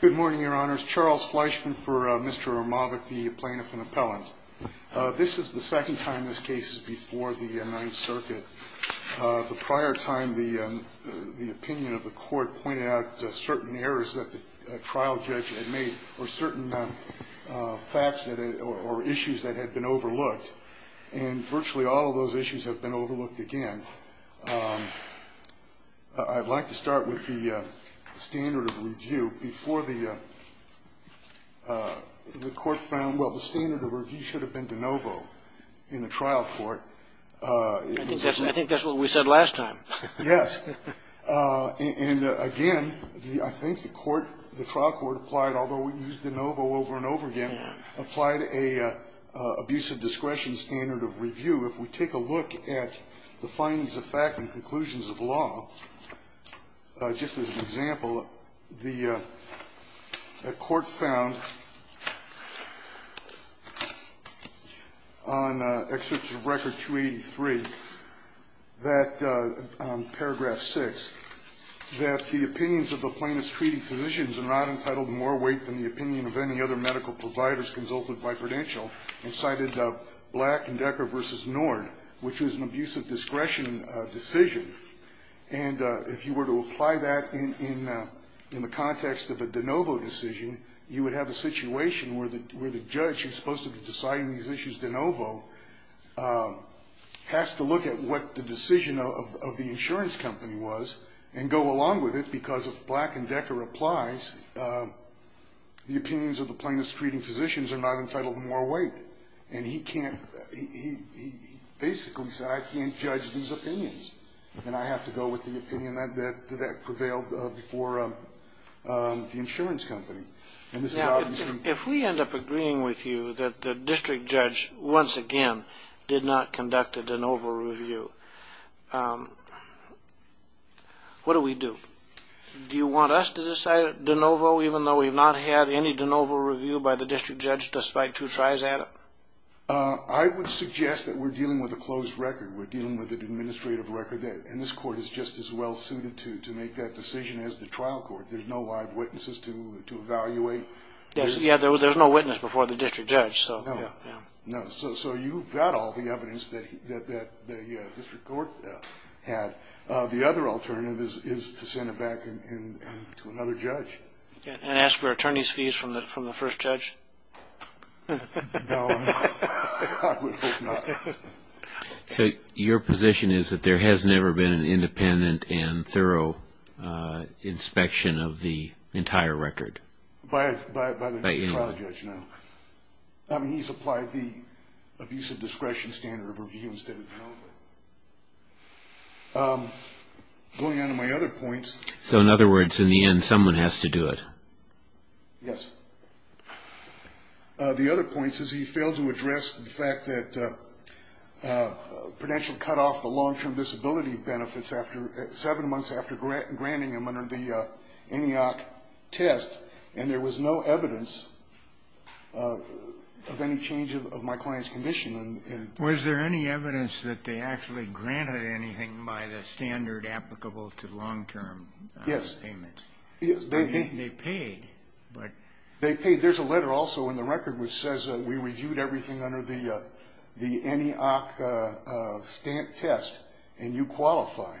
Good morning, your honors. Charles Fleischman for Mr. Ermovick, the plaintiff and appellant. This is the second time this case is before the Ninth Circuit. The prior time, the opinion of the court pointed out certain errors that the trial judge had made or certain facts or issues that had been overlooked. And virtually all of those issues have been overlooked again. I'd like to start with the standard of review. Before the court found, well, the standard of review should have been de novo in the trial court. I think that's what we said last time. Yes. And again, I think the court, the trial court applied, although we used de novo over and over again, applied a abuse of discretion standard of review. If we take a look at the findings of fact and conclusions of law, just as an example, the court found on Excerpts of Record 283 that, paragraph 6, that the opinions of the plaintiff's treating physicians are not entitled more weight than the opinion of any other medical providers consulted by credential, and cited Black and Decker v. Nord, which was an abuse of discretion decision. And if you were to apply that in the context of a de novo decision, you would have a situation where the judge who's supposed to be deciding these issues de novo has to look at what the decision of the insurance company was and go along with it, because if Black and Decker applies, the opinions of the plaintiff's treating physicians are not entitled more weight. And he can't he basically said I can't judge these opinions, and I have to go with the opinion that prevailed before the insurance company. If we end up agreeing with you that the district judge once again did not conduct a de novo review, what do we do? Do you want us to decide de novo even though we've not had any de novo review by the district judge despite two tries at it? I would suggest that we're dealing with a closed record. We're dealing with an administrative record, and this court is just as well suited to make that decision as the trial court. There's no live witnesses to evaluate. There's no witness before the district judge. So you've got all the evidence that the district court had. The other alternative is to send it back to another judge. And ask for attorney's fees from the first judge? No, I would hope not. So your position is that there has never been an independent and thorough inspection of the entire record? By the trial judge, no. He's applied the abuse of discretion standard of review instead of de novo. Going on to my other points. So in other words, in the end, someone has to do it? Yes. The other point is he failed to address the fact that Prudential cut off the long-term disability benefits seven months after granting them under the ENEOC test, and there was no evidence of any change of my client's condition. Was there any evidence that they actually granted anything by the standard applicable to long-term payments? Yes. They paid. They paid. There's a letter also in the record which says we reviewed everything under the ENEOC stamp test, and you qualify.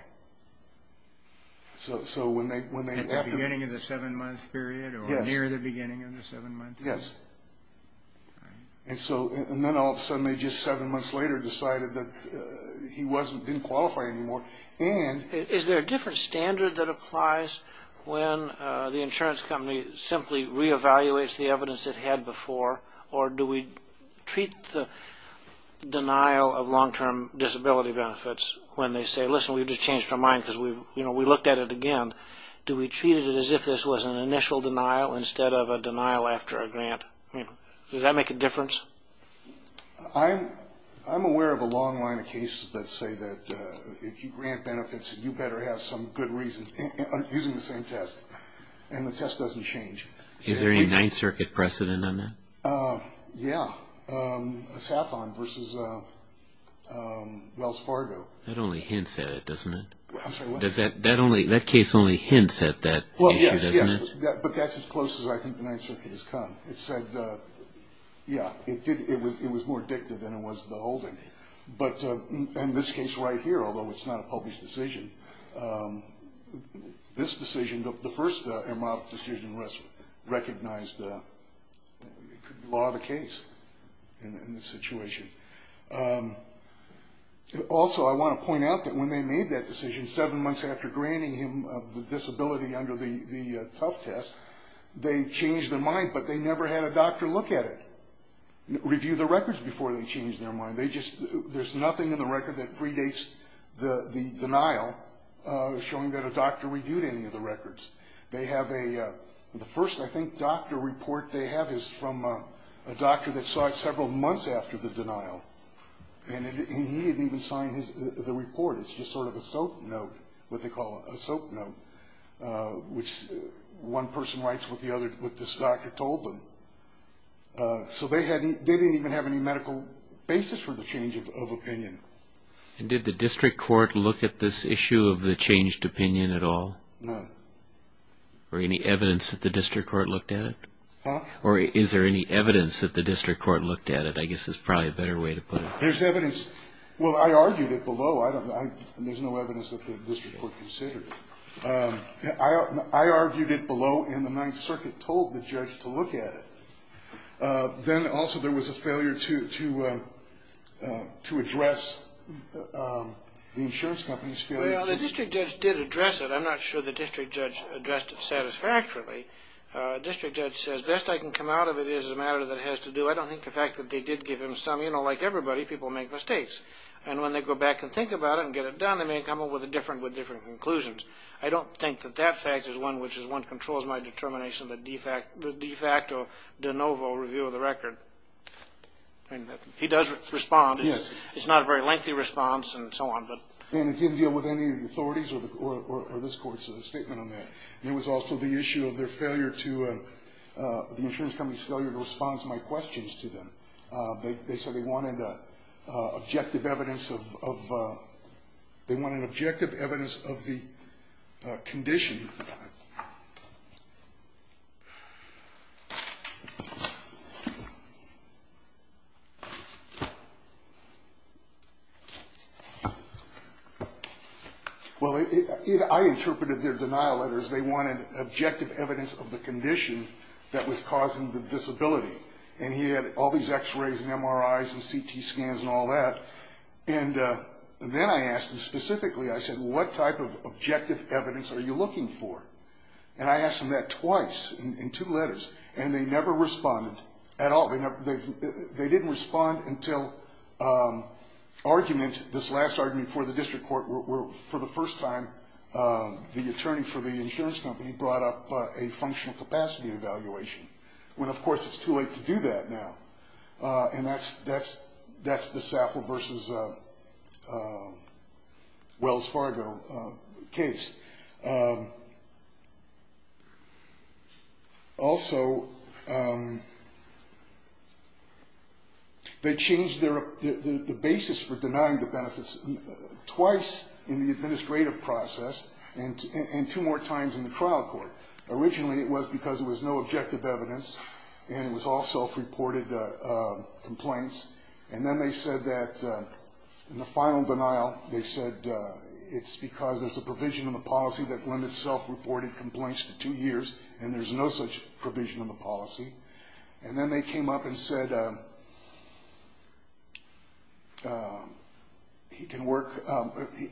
At the beginning of the seven-month period? Yes. Or near the beginning of the seven-month period? Yes. And then all of a sudden they just seven months later decided that he didn't qualify anymore. Is there a different standard that applies when the insurance company simply re-evaluates the evidence it had before, or do we treat the denial of long-term disability benefits when they say, listen, we just changed our mind because we looked at it again? Do we treat it as if this was an initial denial instead of a denial after a grant? Does that make a difference? I'm aware of a long line of cases that say that if you grant benefits, you better have some good reason, using the same test. And the test doesn't change. Is there any Ninth Circuit precedent on that? Yeah. SAFON versus Wells Fargo. That only hints at it, doesn't it? I'm sorry, what? That case only hints at that. Well, yes, yes. But that's as close as I think the Ninth Circuit has come. It said, yeah, it was more addictive than it was the holding. But in this case right here, although it's not a published decision, this decision, the first MROC decision was recognized, it could be law of the case in this situation. Also, I want to point out that when they made that decision, seven months after granting him the disability under the tough test, they changed their mind, but they never had a doctor look at it, review the records before they changed their mind. They just, there's nothing in the record that predates the denial, showing that a doctor reviewed any of the records. They have a, the first, I think, doctor report they have is from a doctor that saw it several months after the denial. And he didn't even sign the report. It's just sort of a soap note, what they call a soap note, which one person writes what this doctor told them. So they didn't even have any medical basis for the change of opinion. And did the district court look at this issue of the changed opinion at all? No. Or any evidence that the district court looked at it? Huh? Or is there any evidence that the district court looked at it? I guess that's probably a better way to put it. There's evidence. Well, I argued it below. There's no evidence that the district court considered it. I argued it below, and the Ninth Circuit told the judge to look at it. Then, also, there was a failure to address the insurance company's failure. Well, the district judge did address it. I'm not sure the district judge addressed it satisfactorily. The district judge says, best I can come out of it is a matter that has to do, I don't think the fact that they did give him some, you know, like everybody, people make mistakes. And when they go back and think about it and get it done, they may come up with different conclusions. I don't think that that fact is one which controls my determination, the de facto de novo review of the record. I mean, he does respond. Yes. It's not a very lengthy response and so on, but. And it didn't deal with any of the authorities or this court's statement on that. There was also the issue of their failure to, the insurance company's failure to respond to my questions to them. They said they wanted objective evidence of the condition. Well, I interpreted their denial letters, they wanted objective evidence of the condition that was causing the disability. And he had all these x-rays and MRIs and CT scans and all that. And then I asked him specifically, I said, what type of objective evidence are you looking for? And I asked him that twice in two letters. And they never responded at all. They didn't respond until argument, this last argument for the district court, where for the first time, the attorney for the insurance company brought up a functional capacity evaluation. When, of course, it's too late to do that now. And that's the Saffold v. Wells Fargo case. Also, they changed the basis for denying the benefits twice in the administrative process and two more times in the trial court. Originally, it was because there was no objective evidence, and it was all self-reported complaints. And then they said that in the final denial, they said it's because there's a provision in the policy that limits self-reported complaints to two years, and there's no such provision in the policy. And then they came up and said he can work,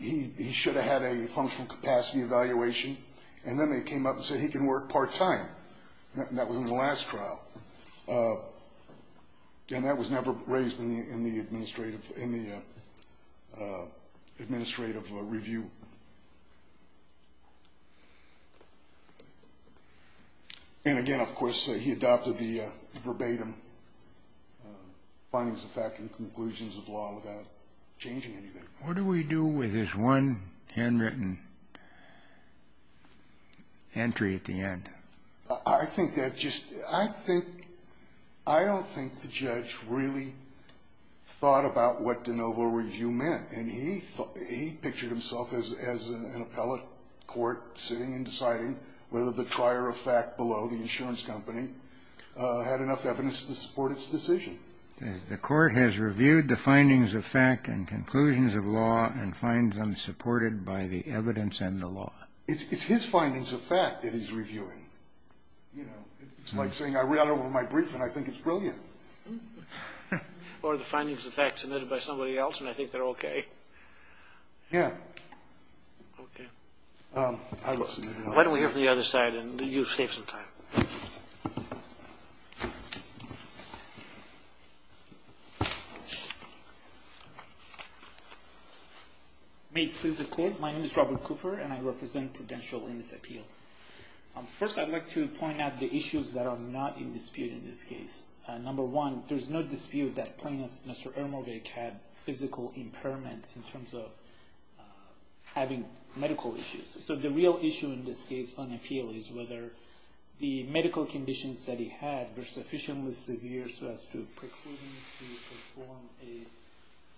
he should have had a functional capacity evaluation. And then they came up and said he can work part-time. And that was in the last trial. And that was never raised in the administrative review. And, again, of course, he adopted the verbatim findings of fact and conclusions of law without changing anything. What do we do with this one handwritten entry at the end? I think that just — I think — I don't think the judge really thought about what de novo review meant. And he pictured himself as an appellate court sitting and deciding whether the trier of fact below, the insurance company, had enough evidence to support its decision. The court has reviewed the findings of fact and conclusions of law and finds them supported by the evidence and the law. It's his findings of fact that he's reviewing. You know, it's like saying I read over my brief and I think it's brilliant. Or the findings of fact submitted by somebody else and I think they're okay. Yeah. Okay. Why don't we hear from the other side and you save some time. May it please the Court. My name is Robert Cooper and I represent Prudential in this appeal. First, I'd like to point out the issues that are not in dispute in this case. Number one, there's no dispute that plaintiff, Mr. Ermovich, had physical impairment in terms of having medical issues. So the real issue in this case on appeal is whether the medical conditions that he had were sufficiently severe so as to preclude him to perform a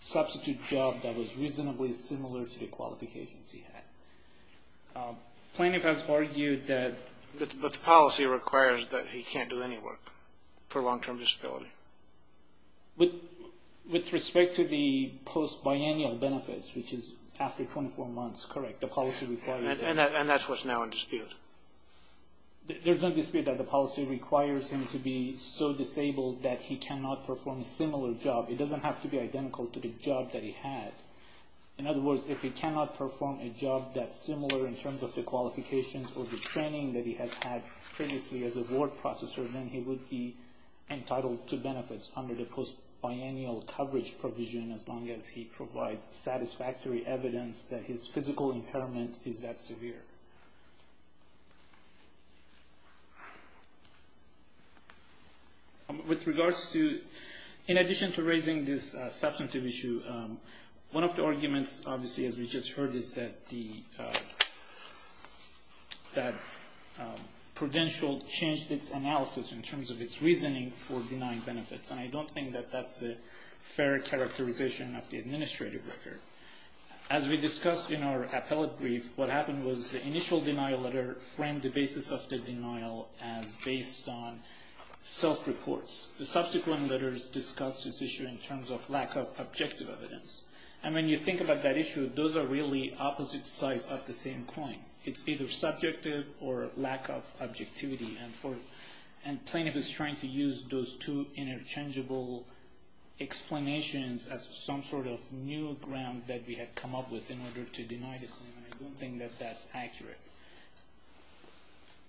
substitute job that was reasonably similar to the qualifications he had. Plaintiff has argued that... But the policy requires that he can't do any work for long-term disability. With respect to the post-biennial benefits, which is after 24 months, correct. And that's what's now in dispute. There's no dispute that the policy requires him to be so disabled that he cannot perform a similar job. It doesn't have to be identical to the job that he had. In other words, if he cannot perform a job that's similar in terms of the qualifications or the training that he has had previously as a ward processor, then he would be entitled to benefits under the post-biennial coverage provision as long as he provides satisfactory evidence that his physical impairment is that severe. With regards to... In addition to raising this substantive issue, one of the arguments, obviously, as we just heard, is that Prudential changed its analysis in terms of its reasoning for denying benefits. And I don't think that that's a fair characterization of the administrative record. As we discussed in our appellate brief, what happened was the initial denial letter framed the basis of the denial as based on self-reports. The subsequent letters discussed this issue in terms of lack of objective evidence. And when you think about that issue, those are really opposite sides of the same coin. It's either subjective or lack of objectivity. And plaintiff is trying to use those two interchangeable explanations as some sort of new ground that we had come up with in order to deny the claim, and I don't think that that's accurate.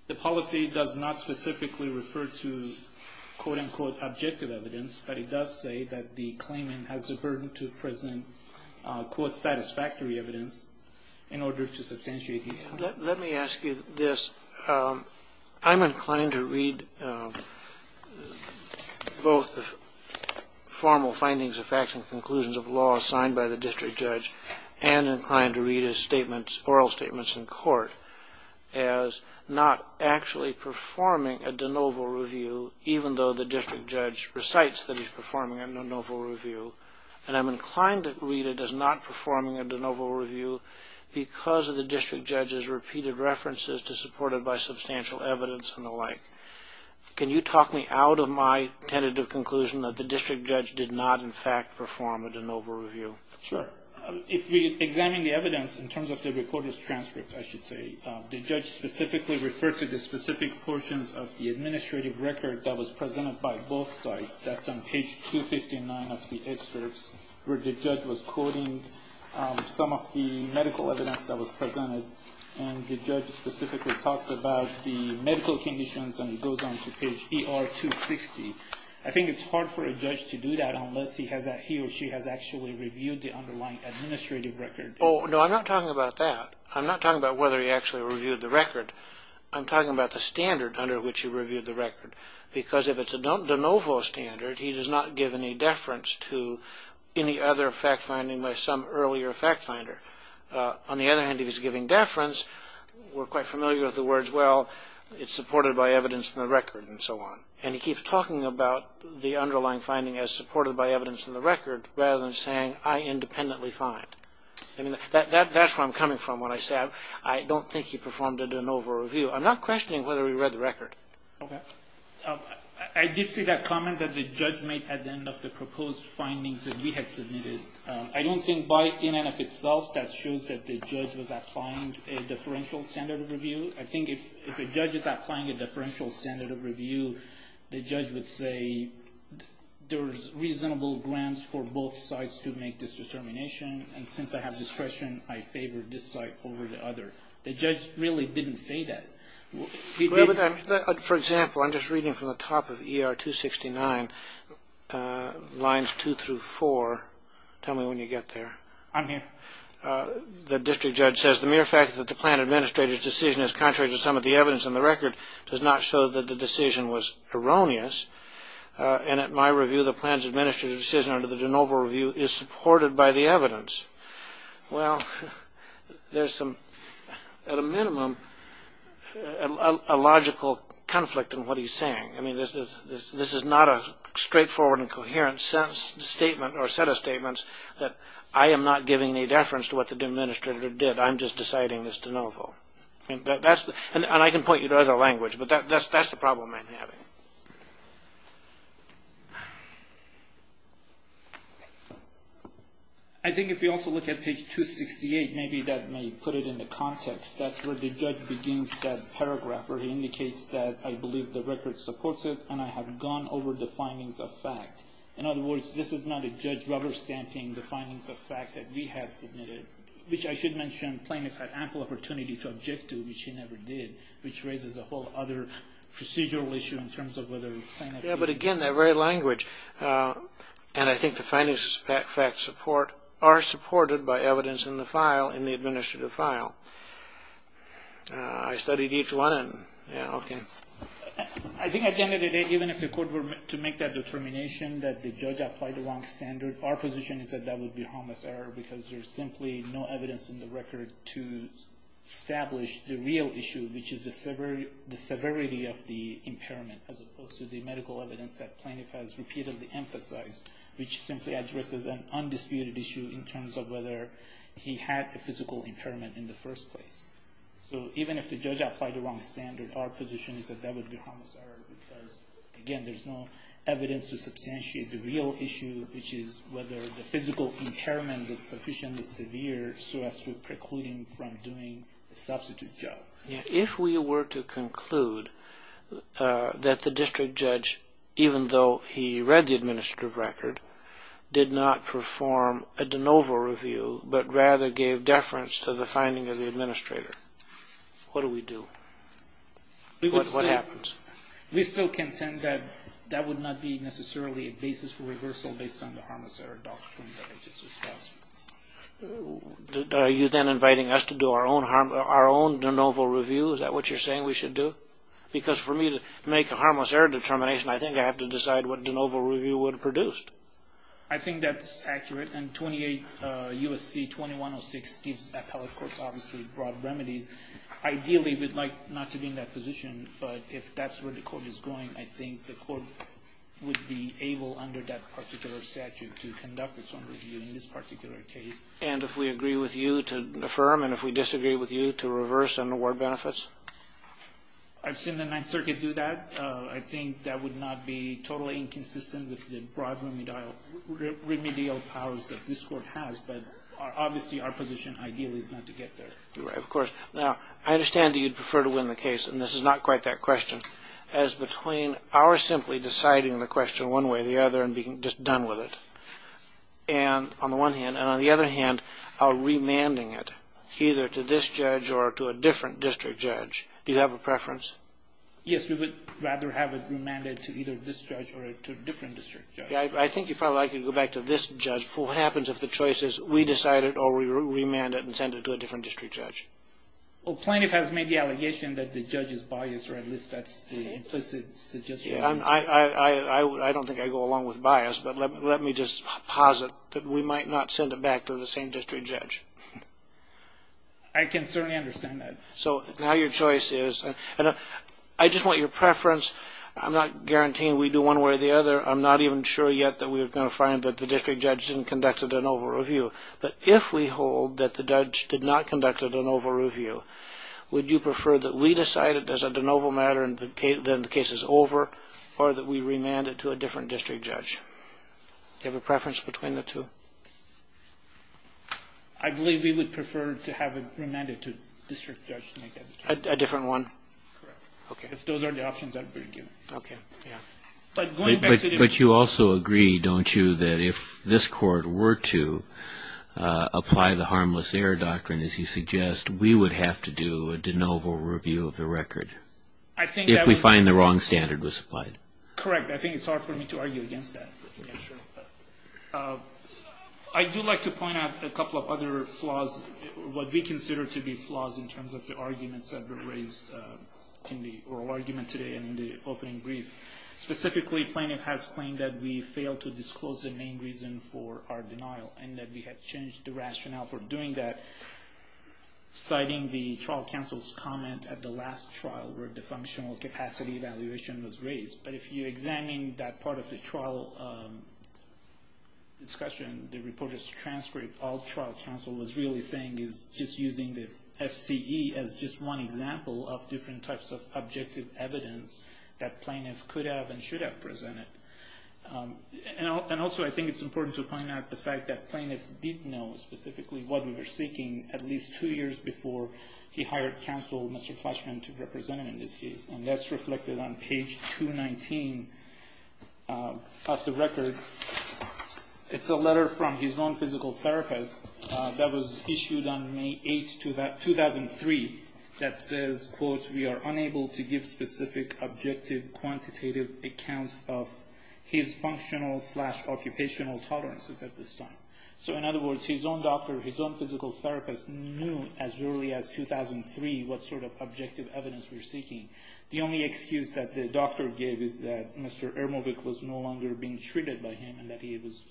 The policy does not specifically refer to, quote-unquote, objective evidence, but it does say that the claimant has the burden to present, quote, satisfactory evidence in order to substantiate his claim. Let me ask you this. I'm inclined to read both the formal findings of facts and conclusions of law assigned by the district judge and I'm inclined to read his oral statements in court as not actually performing a de novo review, even though the district judge recites that he's performing a de novo review. And I'm inclined to read it as not performing a de novo review because of the district judge's repeated references to supported by substantial evidence and the like. Can you talk me out of my tentative conclusion that the district judge did not, in fact, perform a de novo review? Sure. If we examine the evidence in terms of the reporter's transcript, I should say, the judge specifically referred to the specific portions of the administrative record that was presented by both sides. That's on page 259 of the excerpts where the judge was quoting some of the medical evidence that was presented and the judge specifically talks about the medical conditions and it goes on to page ER 260. I think it's hard for a judge to do that unless he or she has actually reviewed the underlying administrative record. Oh, no, I'm not talking about that. I'm not talking about whether he actually reviewed the record. I'm talking about the standard under which he reviewed the record because if it's a de novo standard, he does not give any deference to any other fact finding by some earlier fact finder. On the other hand, if he's giving deference, we're quite familiar with the words, well, it's supported by evidence in the record and so on. And he keeps talking about the underlying finding as supported by evidence in the record rather than saying I independently find. That's where I'm coming from when I say I don't think he performed a de novo review. I'm not questioning whether he read the record. Okay. I did see that comment that the judge made at the end of the proposed findings that we had submitted. I don't think in and of itself that shows that the judge was applying a differential standard of review. I think if a judge is applying a differential standard of review, the judge would say there's reasonable grounds for both sides to make this determination and since I have discretion, I favor this side over the other. The judge really didn't say that. For example, I'm just reading from the top of ER 269, lines two through four. Tell me when you get there. I'm here. The district judge says the mere fact that the plan administrator's decision is contrary to some of the evidence in the record does not show that the decision was erroneous. And at my review, the plan's administrator's decision under the de novo review is supported by the evidence. Well, there's some, at a minimum, a logical conflict in what he's saying. I mean, this is not a straightforward and coherent statement or set of statements that I am not giving any deference to what the administrator did. I'm just deciding this de novo. And I can point you to other language, but that's the problem I'm having. I think if you also look at page 268, maybe that may put it in the context. That's where the judge begins that paragraph where he indicates that I believe the record supports it and I have gone over the findings of fact. In other words, this is not a judge rubber stamping the findings of fact that we have submitted, which I should mention plaintiff had ample opportunity to object to, which he never did, Yeah, but again, that very language, and I think the findings of fact support, are supported by evidence in the file, in the administrative file. I studied each one and, yeah, okay. I think at the end of the day, even if the court were to make that determination that the judge applied the wrong standard, our position is that that would be a harmless error because there's simply no evidence in the record to establish the real issue, which is the severity of the impairment, as opposed to the medical evidence that plaintiff has repeatedly emphasized, which simply addresses an undisputed issue in terms of whether he had a physical impairment in the first place. So even if the judge applied the wrong standard, our position is that that would be a harmless error because, again, there's no evidence to substantiate the real issue, which is whether the physical impairment was sufficiently severe so as to preclude him from doing the substitute job. If we were to conclude that the district judge, even though he read the administrative record, did not perform a de novo review, but rather gave deference to the finding of the administrator, what do we do? What happens? We still contend that that would not be necessarily a basis for reversal based on the harmless error doctrine that I just discussed. Are you then inviting us to do our own de novo review? Is that what you're saying we should do? Because for me to make a harmless error determination, I think I have to decide what de novo review would have produced. I think that's accurate. And 28 U.S.C. 2106 gives appellate courts, obviously, broad remedies. Ideally, we'd like not to be in that position, but if that's where the court is going, I think the court would be able, under that particular statute, to conduct its own review in this particular case. And if we agree with you to affirm and if we disagree with you to reverse and award benefits? I've seen the Ninth Circuit do that. I think that would not be totally inconsistent with the broad remedial powers that this Court has, but obviously our position ideally is not to get there. Right, of course. Now, I understand that you'd prefer to win the case, and this is not quite that question. As between our simply deciding the question one way or the other and being just done with it, and on the one hand, and on the other hand, our remanding it either to this judge or to a different district judge, do you have a preference? Yes, we would rather have it remanded to either this judge or to a different district judge. I think if I could go back to this judge, what happens if the choice is we decide it or we remand it and send it to a different district judge? Well, plaintiff has made the allegation that the judge is biased, or at least that's the implicit suggestion. I don't think I go along with bias, but let me just posit that we might not send it back to the same district judge. I can certainly understand that. So now your choice is, and I just want your preference. I'm not guaranteeing we do one way or the other. I'm not even sure yet that we're going to find that the district judge didn't conduct an over-review. But if we hold that the judge did not conduct an over-review, would you prefer that we decide it as a de novo matter and then the case is over, or that we remand it to a different district judge? Do you have a preference between the two? I believe we would prefer to have it remanded to a district judge. A different one? Correct. Okay. If those are the options, I would agree with you. Okay. But you also agree, don't you, that if this court were to apply the harmless error doctrine, as you suggest, we would have to do a de novo review of the record if we find the wrong standard was applied? Correct. I think it's hard for me to argue against that. I do like to point out a couple of other flaws, what we consider to be flaws in terms of the arguments that were raised in the oral argument today and in the opening brief. Specifically, plaintiff has claimed that we failed to disclose the main reason for our denial and that we had changed the rationale for doing that, citing the trial counsel's comment at the last trial where the functional capacity evaluation was raised. But if you examine that part of the trial discussion, the reporter's transcript, all trial counsel was really saying is just using the FCE as just one example of different types of objective evidence that plaintiff could have and should have presented. And also I think it's important to point out the fact that plaintiff did know specifically what we were seeking at least two years before he hired counsel, Mr. Fleischman, to represent him in this case. And that's reflected on page 219 of the record. It's a letter from his own physical therapist that was issued on May 8, 2003, that says, quote, we are unable to give specific objective quantitative accounts of his functional slash occupational tolerances at this time. So in other words, his own doctor, his own physical therapist, knew as early as 2003 what sort of objective evidence we were seeking. The only excuse that the doctor gave is that Mr. Ermovic was no longer being treated by him and that he was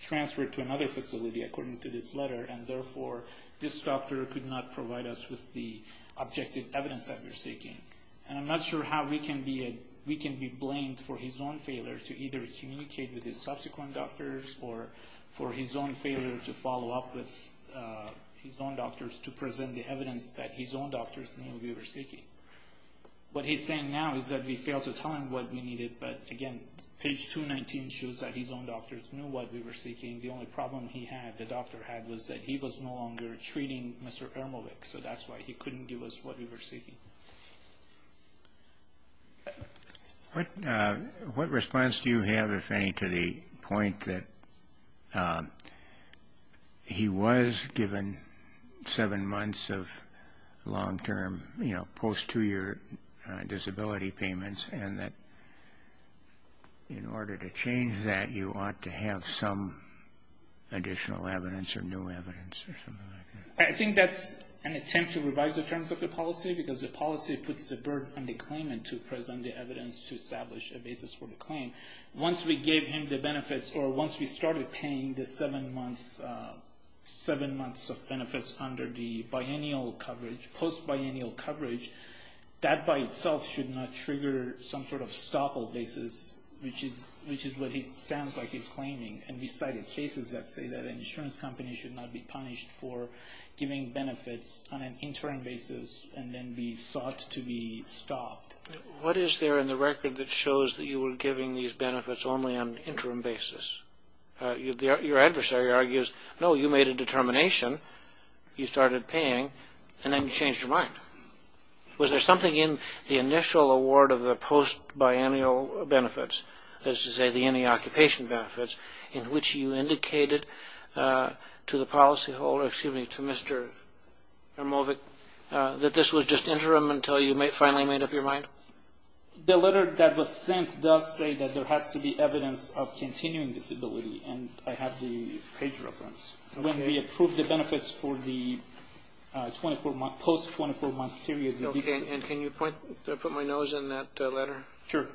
transferred to another facility, according to this letter, and therefore this doctor could not provide us with the objective evidence that we were seeking. And I'm not sure how we can be blamed for his own failure to either communicate with his subsequent doctors or for his own failure to follow up with his own doctors to present the evidence that his own doctors knew we were seeking. What he's saying now is that we failed to tell him what we needed, but again, page 219 shows that his own doctors knew what we were seeking. The only problem he had, the doctor had, was that he was no longer treating Mr. Ermovic, so that's why he couldn't give us what we were seeking. What response do you have, if any, to the point that he was given seven months of long-term, you know, post-two-year disability payments, and that in order to change that you ought to have some additional evidence or new evidence or something like that? I think that's an attempt to revise the terms of the policy because the policy puts the burden on the claimant to present the evidence to establish a basis for the claim. Once we gave him the benefits or once we started paying the seven months of benefits under the biennial coverage, post-biennial coverage, that by itself should not trigger some sort of stoppable basis, which is what it sounds like he's claiming. And we cited cases that say that an insurance company should not be punished for giving benefits on an interim basis and then be sought to be stopped. What is there in the record that shows that you were giving these benefits only on an interim basis? Your adversary argues, no, you made a determination, you started paying, and then you changed your mind. Was there something in the initial award of the post-biennial benefits, as to say the any occupation benefits, in which you indicated to the policyholder, excuse me, to Mr. Hermovic, that this was just interim until you finally made up your mind? The letter that was sent does say that there has to be evidence of continuing disability, and I have the page reference. When we approved the benefits for the post-24-month period. And can you put my nose in that letter? Sure.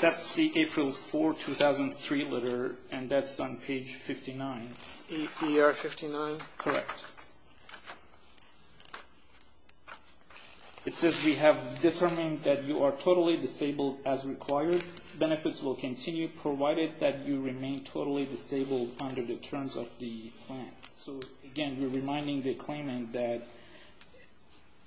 That's the April 4, 2003 letter, and that's on page 59. APR 59? Correct. It says we have determined that you are totally disabled as required. Benefits will continue, provided that you remain totally disabled under the terms of the plan. So again, we're reminding the claimant that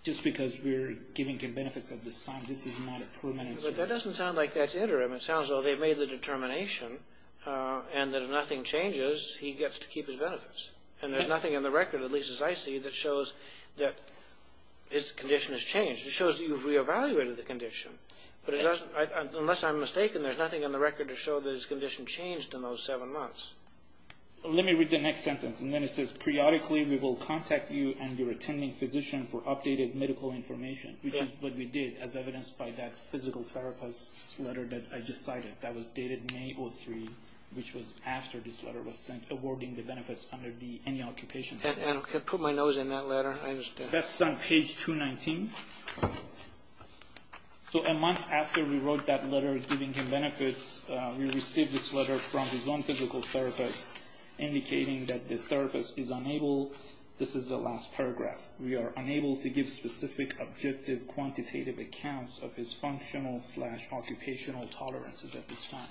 just because we're giving him benefits at this time, this is not a permanent solution. But that doesn't sound like that's interim. It sounds as though they've made the determination, and that if nothing changes, he gets to keep his benefits. And there's nothing in the record, at least as I see it, that shows that his condition has changed. It shows that you've re-evaluated the condition. But unless I'm mistaken, there's nothing in the record to show that his condition changed in those seven months. Let me read the next sentence, and then it says, periodically we will contact you and your attending physician for updated medical information, which is what we did, as evidenced by that physical therapist's letter that I just cited. That was dated May 03, which was after this letter was sent, awarding the benefits under the annual occupation. Put my nose in that letter. That's on page 219. So a month after we wrote that letter giving him benefits, we received this letter from his own physical therapist indicating that the therapist is unable. This is the last paragraph. We are unable to give specific, objective, quantitative accounts of his functional-slash-occupational tolerances at this time.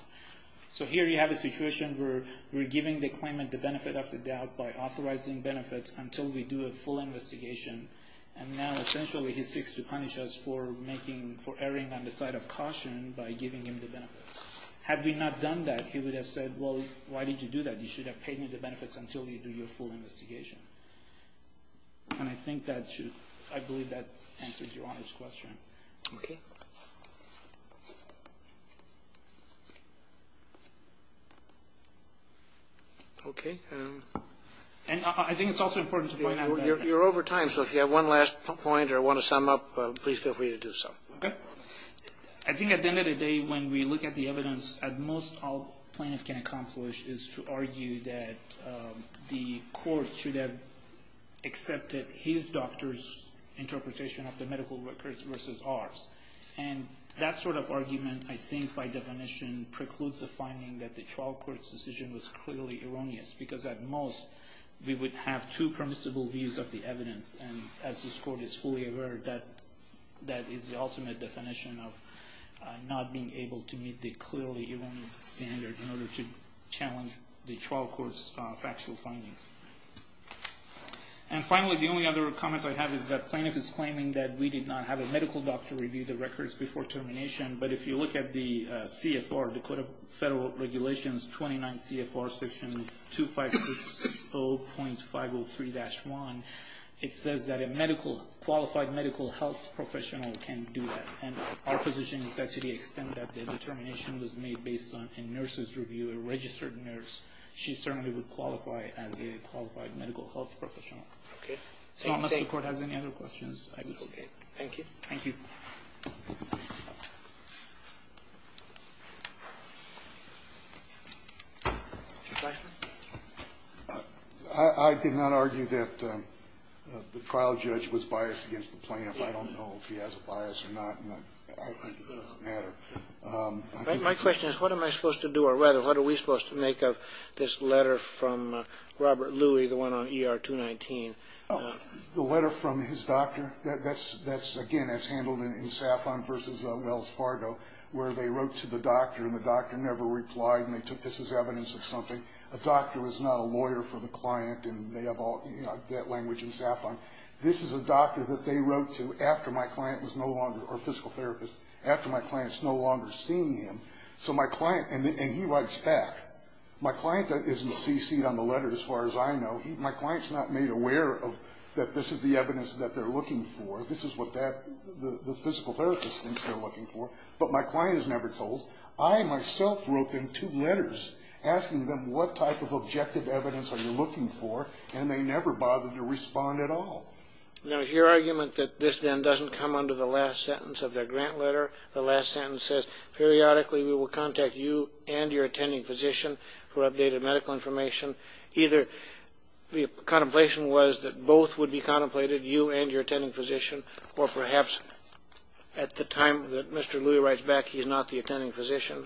So here you have a situation where we're giving the claimant the benefit of the doubt by authorizing benefits until we do a full investigation. And now essentially he seeks to punish us for erring on the side of caution by giving him the benefits. Had we not done that, he would have said, well, why did you do that? You should have paid me the benefits until you do your full investigation. And I think that should, I believe that answers Your Honor's question. Okay. Okay. And I think it's also important to point out that- You're over time, so if you have one last point or want to sum up, please feel free to do so. Okay. I think at the end of the day when we look at the evidence, at most all plaintiffs can accomplish is to argue that the court should have accepted his doctor's interpretation of the medical records versus ours. And that sort of argument, I think by definition, precludes a finding that the trial court's decision was clearly erroneous because at most we would have two permissible views of the evidence. And as this court is fully aware, that is the ultimate definition of not being able to meet the clearly erroneous standard in order to challenge the trial court's factual findings. And finally, the only other comment I have is that plaintiff is claiming that we did not have a medical doctor review the records before termination. But if you look at the CFR, Dakota Federal Regulations 29 CFR section 2560.503-1, it says that a qualified medical health professional can do that. And our position is that to the extent that the determination was made based on a nurse's review, a registered nurse, she certainly would qualify as a qualified medical health professional. Okay. So unless the Court has any other questions, I would say. Thank you. Thank you. I did not argue that the trial judge was biased against the plaintiff. I don't know if he has a bias or not. It doesn't matter. My question is what am I supposed to do, or rather what are we supposed to make of this letter from Robert Louis, the one on ER-219? The letter from his doctor? That's, again, as handled in Saffron v. Wells Fargo, where they wrote to the doctor, and the doctor never replied, and they took this as evidence of something. A doctor is not a lawyer for the client, and they have all that language in Saffron. This is a doctor that they wrote to after my client was no longer, or physical therapist, after my client is no longer seeing him. So my client, and he writes back. My client isn't CC'd on the letter as far as I know. My client is not made aware that this is the evidence that they're looking for. This is what the physical therapist thinks they're looking for. But my client is never told. I myself wrote them two letters asking them what type of objective evidence are you looking for, and they never bothered to respond at all. Now, is your argument that this then doesn't come under the last sentence of the grant letter? The last sentence says, Periodically we will contact you and your attending physician for updated medical information. Either the contemplation was that both would be contemplated, you and your attending physician, or perhaps at the time that Mr. Louis writes back, he's not the attending physician.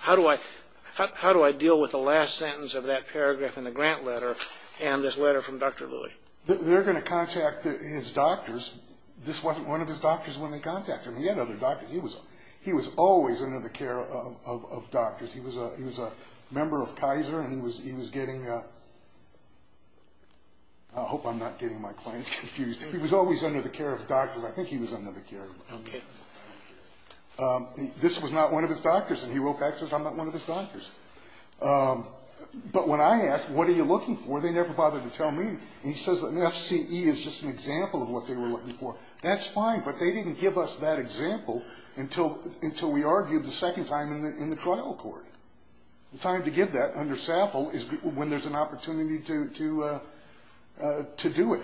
How do I deal with the last sentence of that paragraph in the grant letter, and this letter from Dr. Louis? They're going to contact his doctors. This wasn't one of his doctors when they contacted him. He had other doctors. He was always under the care of doctors. He was a member of Kaiser, and he was getting, I hope I'm not getting my clients confused. He was always under the care of doctors. I think he was under the care of doctors. Okay. This was not one of his doctors, and he wrote back and says, I'm not one of his doctors. But when I asked, what are you looking for, they never bothered to tell me. And he says that an FCE is just an example of what they were looking for. That's fine, but they didn't give us that example until we argued the second time in the trial court. The time to give that under SAFL is when there's an opportunity to do it.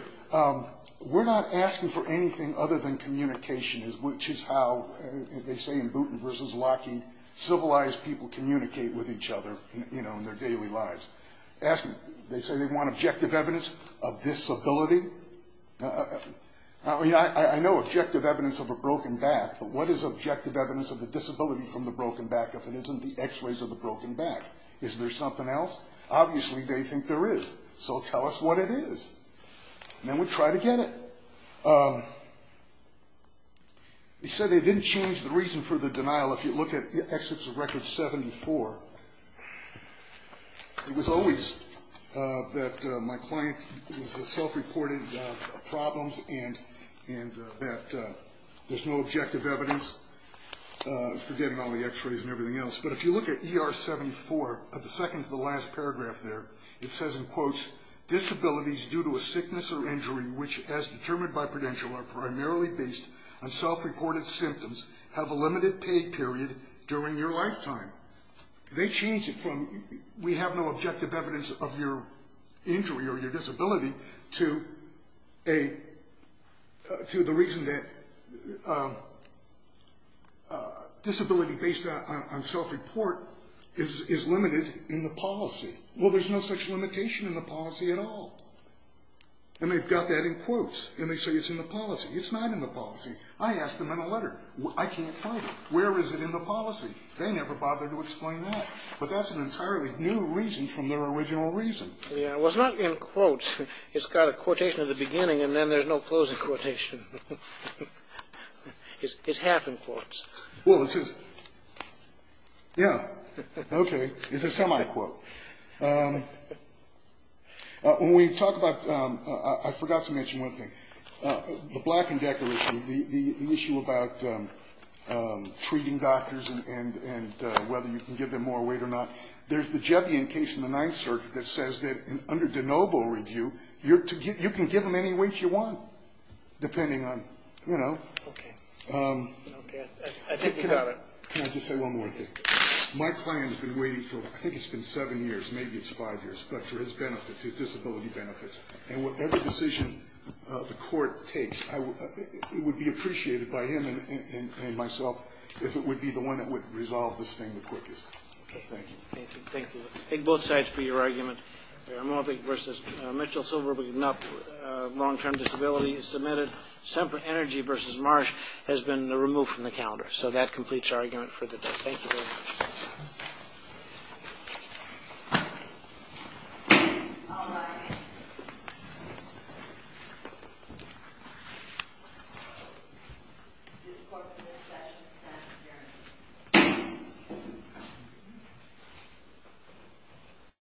We're not asking for anything other than communication, which is how they say in Boonton v. Lockheed, civilized people communicate with each other in their daily lives. They say they want objective evidence of disability. I mean, I know objective evidence of a broken back, but what is objective evidence of the disability from the broken back if it isn't the X-rays of the broken back? Is there something else? Obviously, they think there is, so tell us what it is, and then we'll try to get it. He said they didn't change the reason for the denial. If you look at Excerpts of Record 74, it was always that my client was self-reported problems and that there's no objective evidence, forgetting all the X-rays and everything else. But if you look at ER 74, at the second to the last paragraph there, it says, Disabilities due to a sickness or injury which, as determined by Prudential, are primarily based on self-reported symptoms have a limited pay period during your lifetime. They changed it from we have no objective evidence of your injury or your disability to the reason that disability based on self-report is limited in the policy. Well, there's no such limitation in the policy at all. And they've got that in quotes, and they say it's in the policy. It's not in the policy. I asked them in a letter, I can't find it. Where is it in the policy? They never bothered to explain that. But that's an entirely new reason from their original reason. Yeah. Well, it's not in quotes. It's got a quotation at the beginning, and then there's no closing quotation. It's half in quotes. Well, it's just, yeah. Okay. It's a semi-quote. When we talk about, I forgot to mention one thing. The Black and Decker issue, the issue about treating doctors and whether you can give them more weight or not, there's the Jebbian case in the Ninth Circuit that says that under de novo review, you can give them any weight you want, depending on, you know. Okay. Okay. I think you got it. Can I just say one more thing? My client has been waiting for, I think it's been seven years, maybe it's five years, but for his benefits, his disability benefits. And whatever decision the court takes, it would be appreciated by him and myself if it would be the one that would resolve this thing the quickest. Okay. Thank you. Thank you. I take both sides for your argument. I'm hoping versus Mitchell Silverberg, not long-term disability, submitted Semper Energy versus Marsh has been removed from the calendar. So that completes our argument for the day. Thank you very much. Thank you. Thank you. Thank you.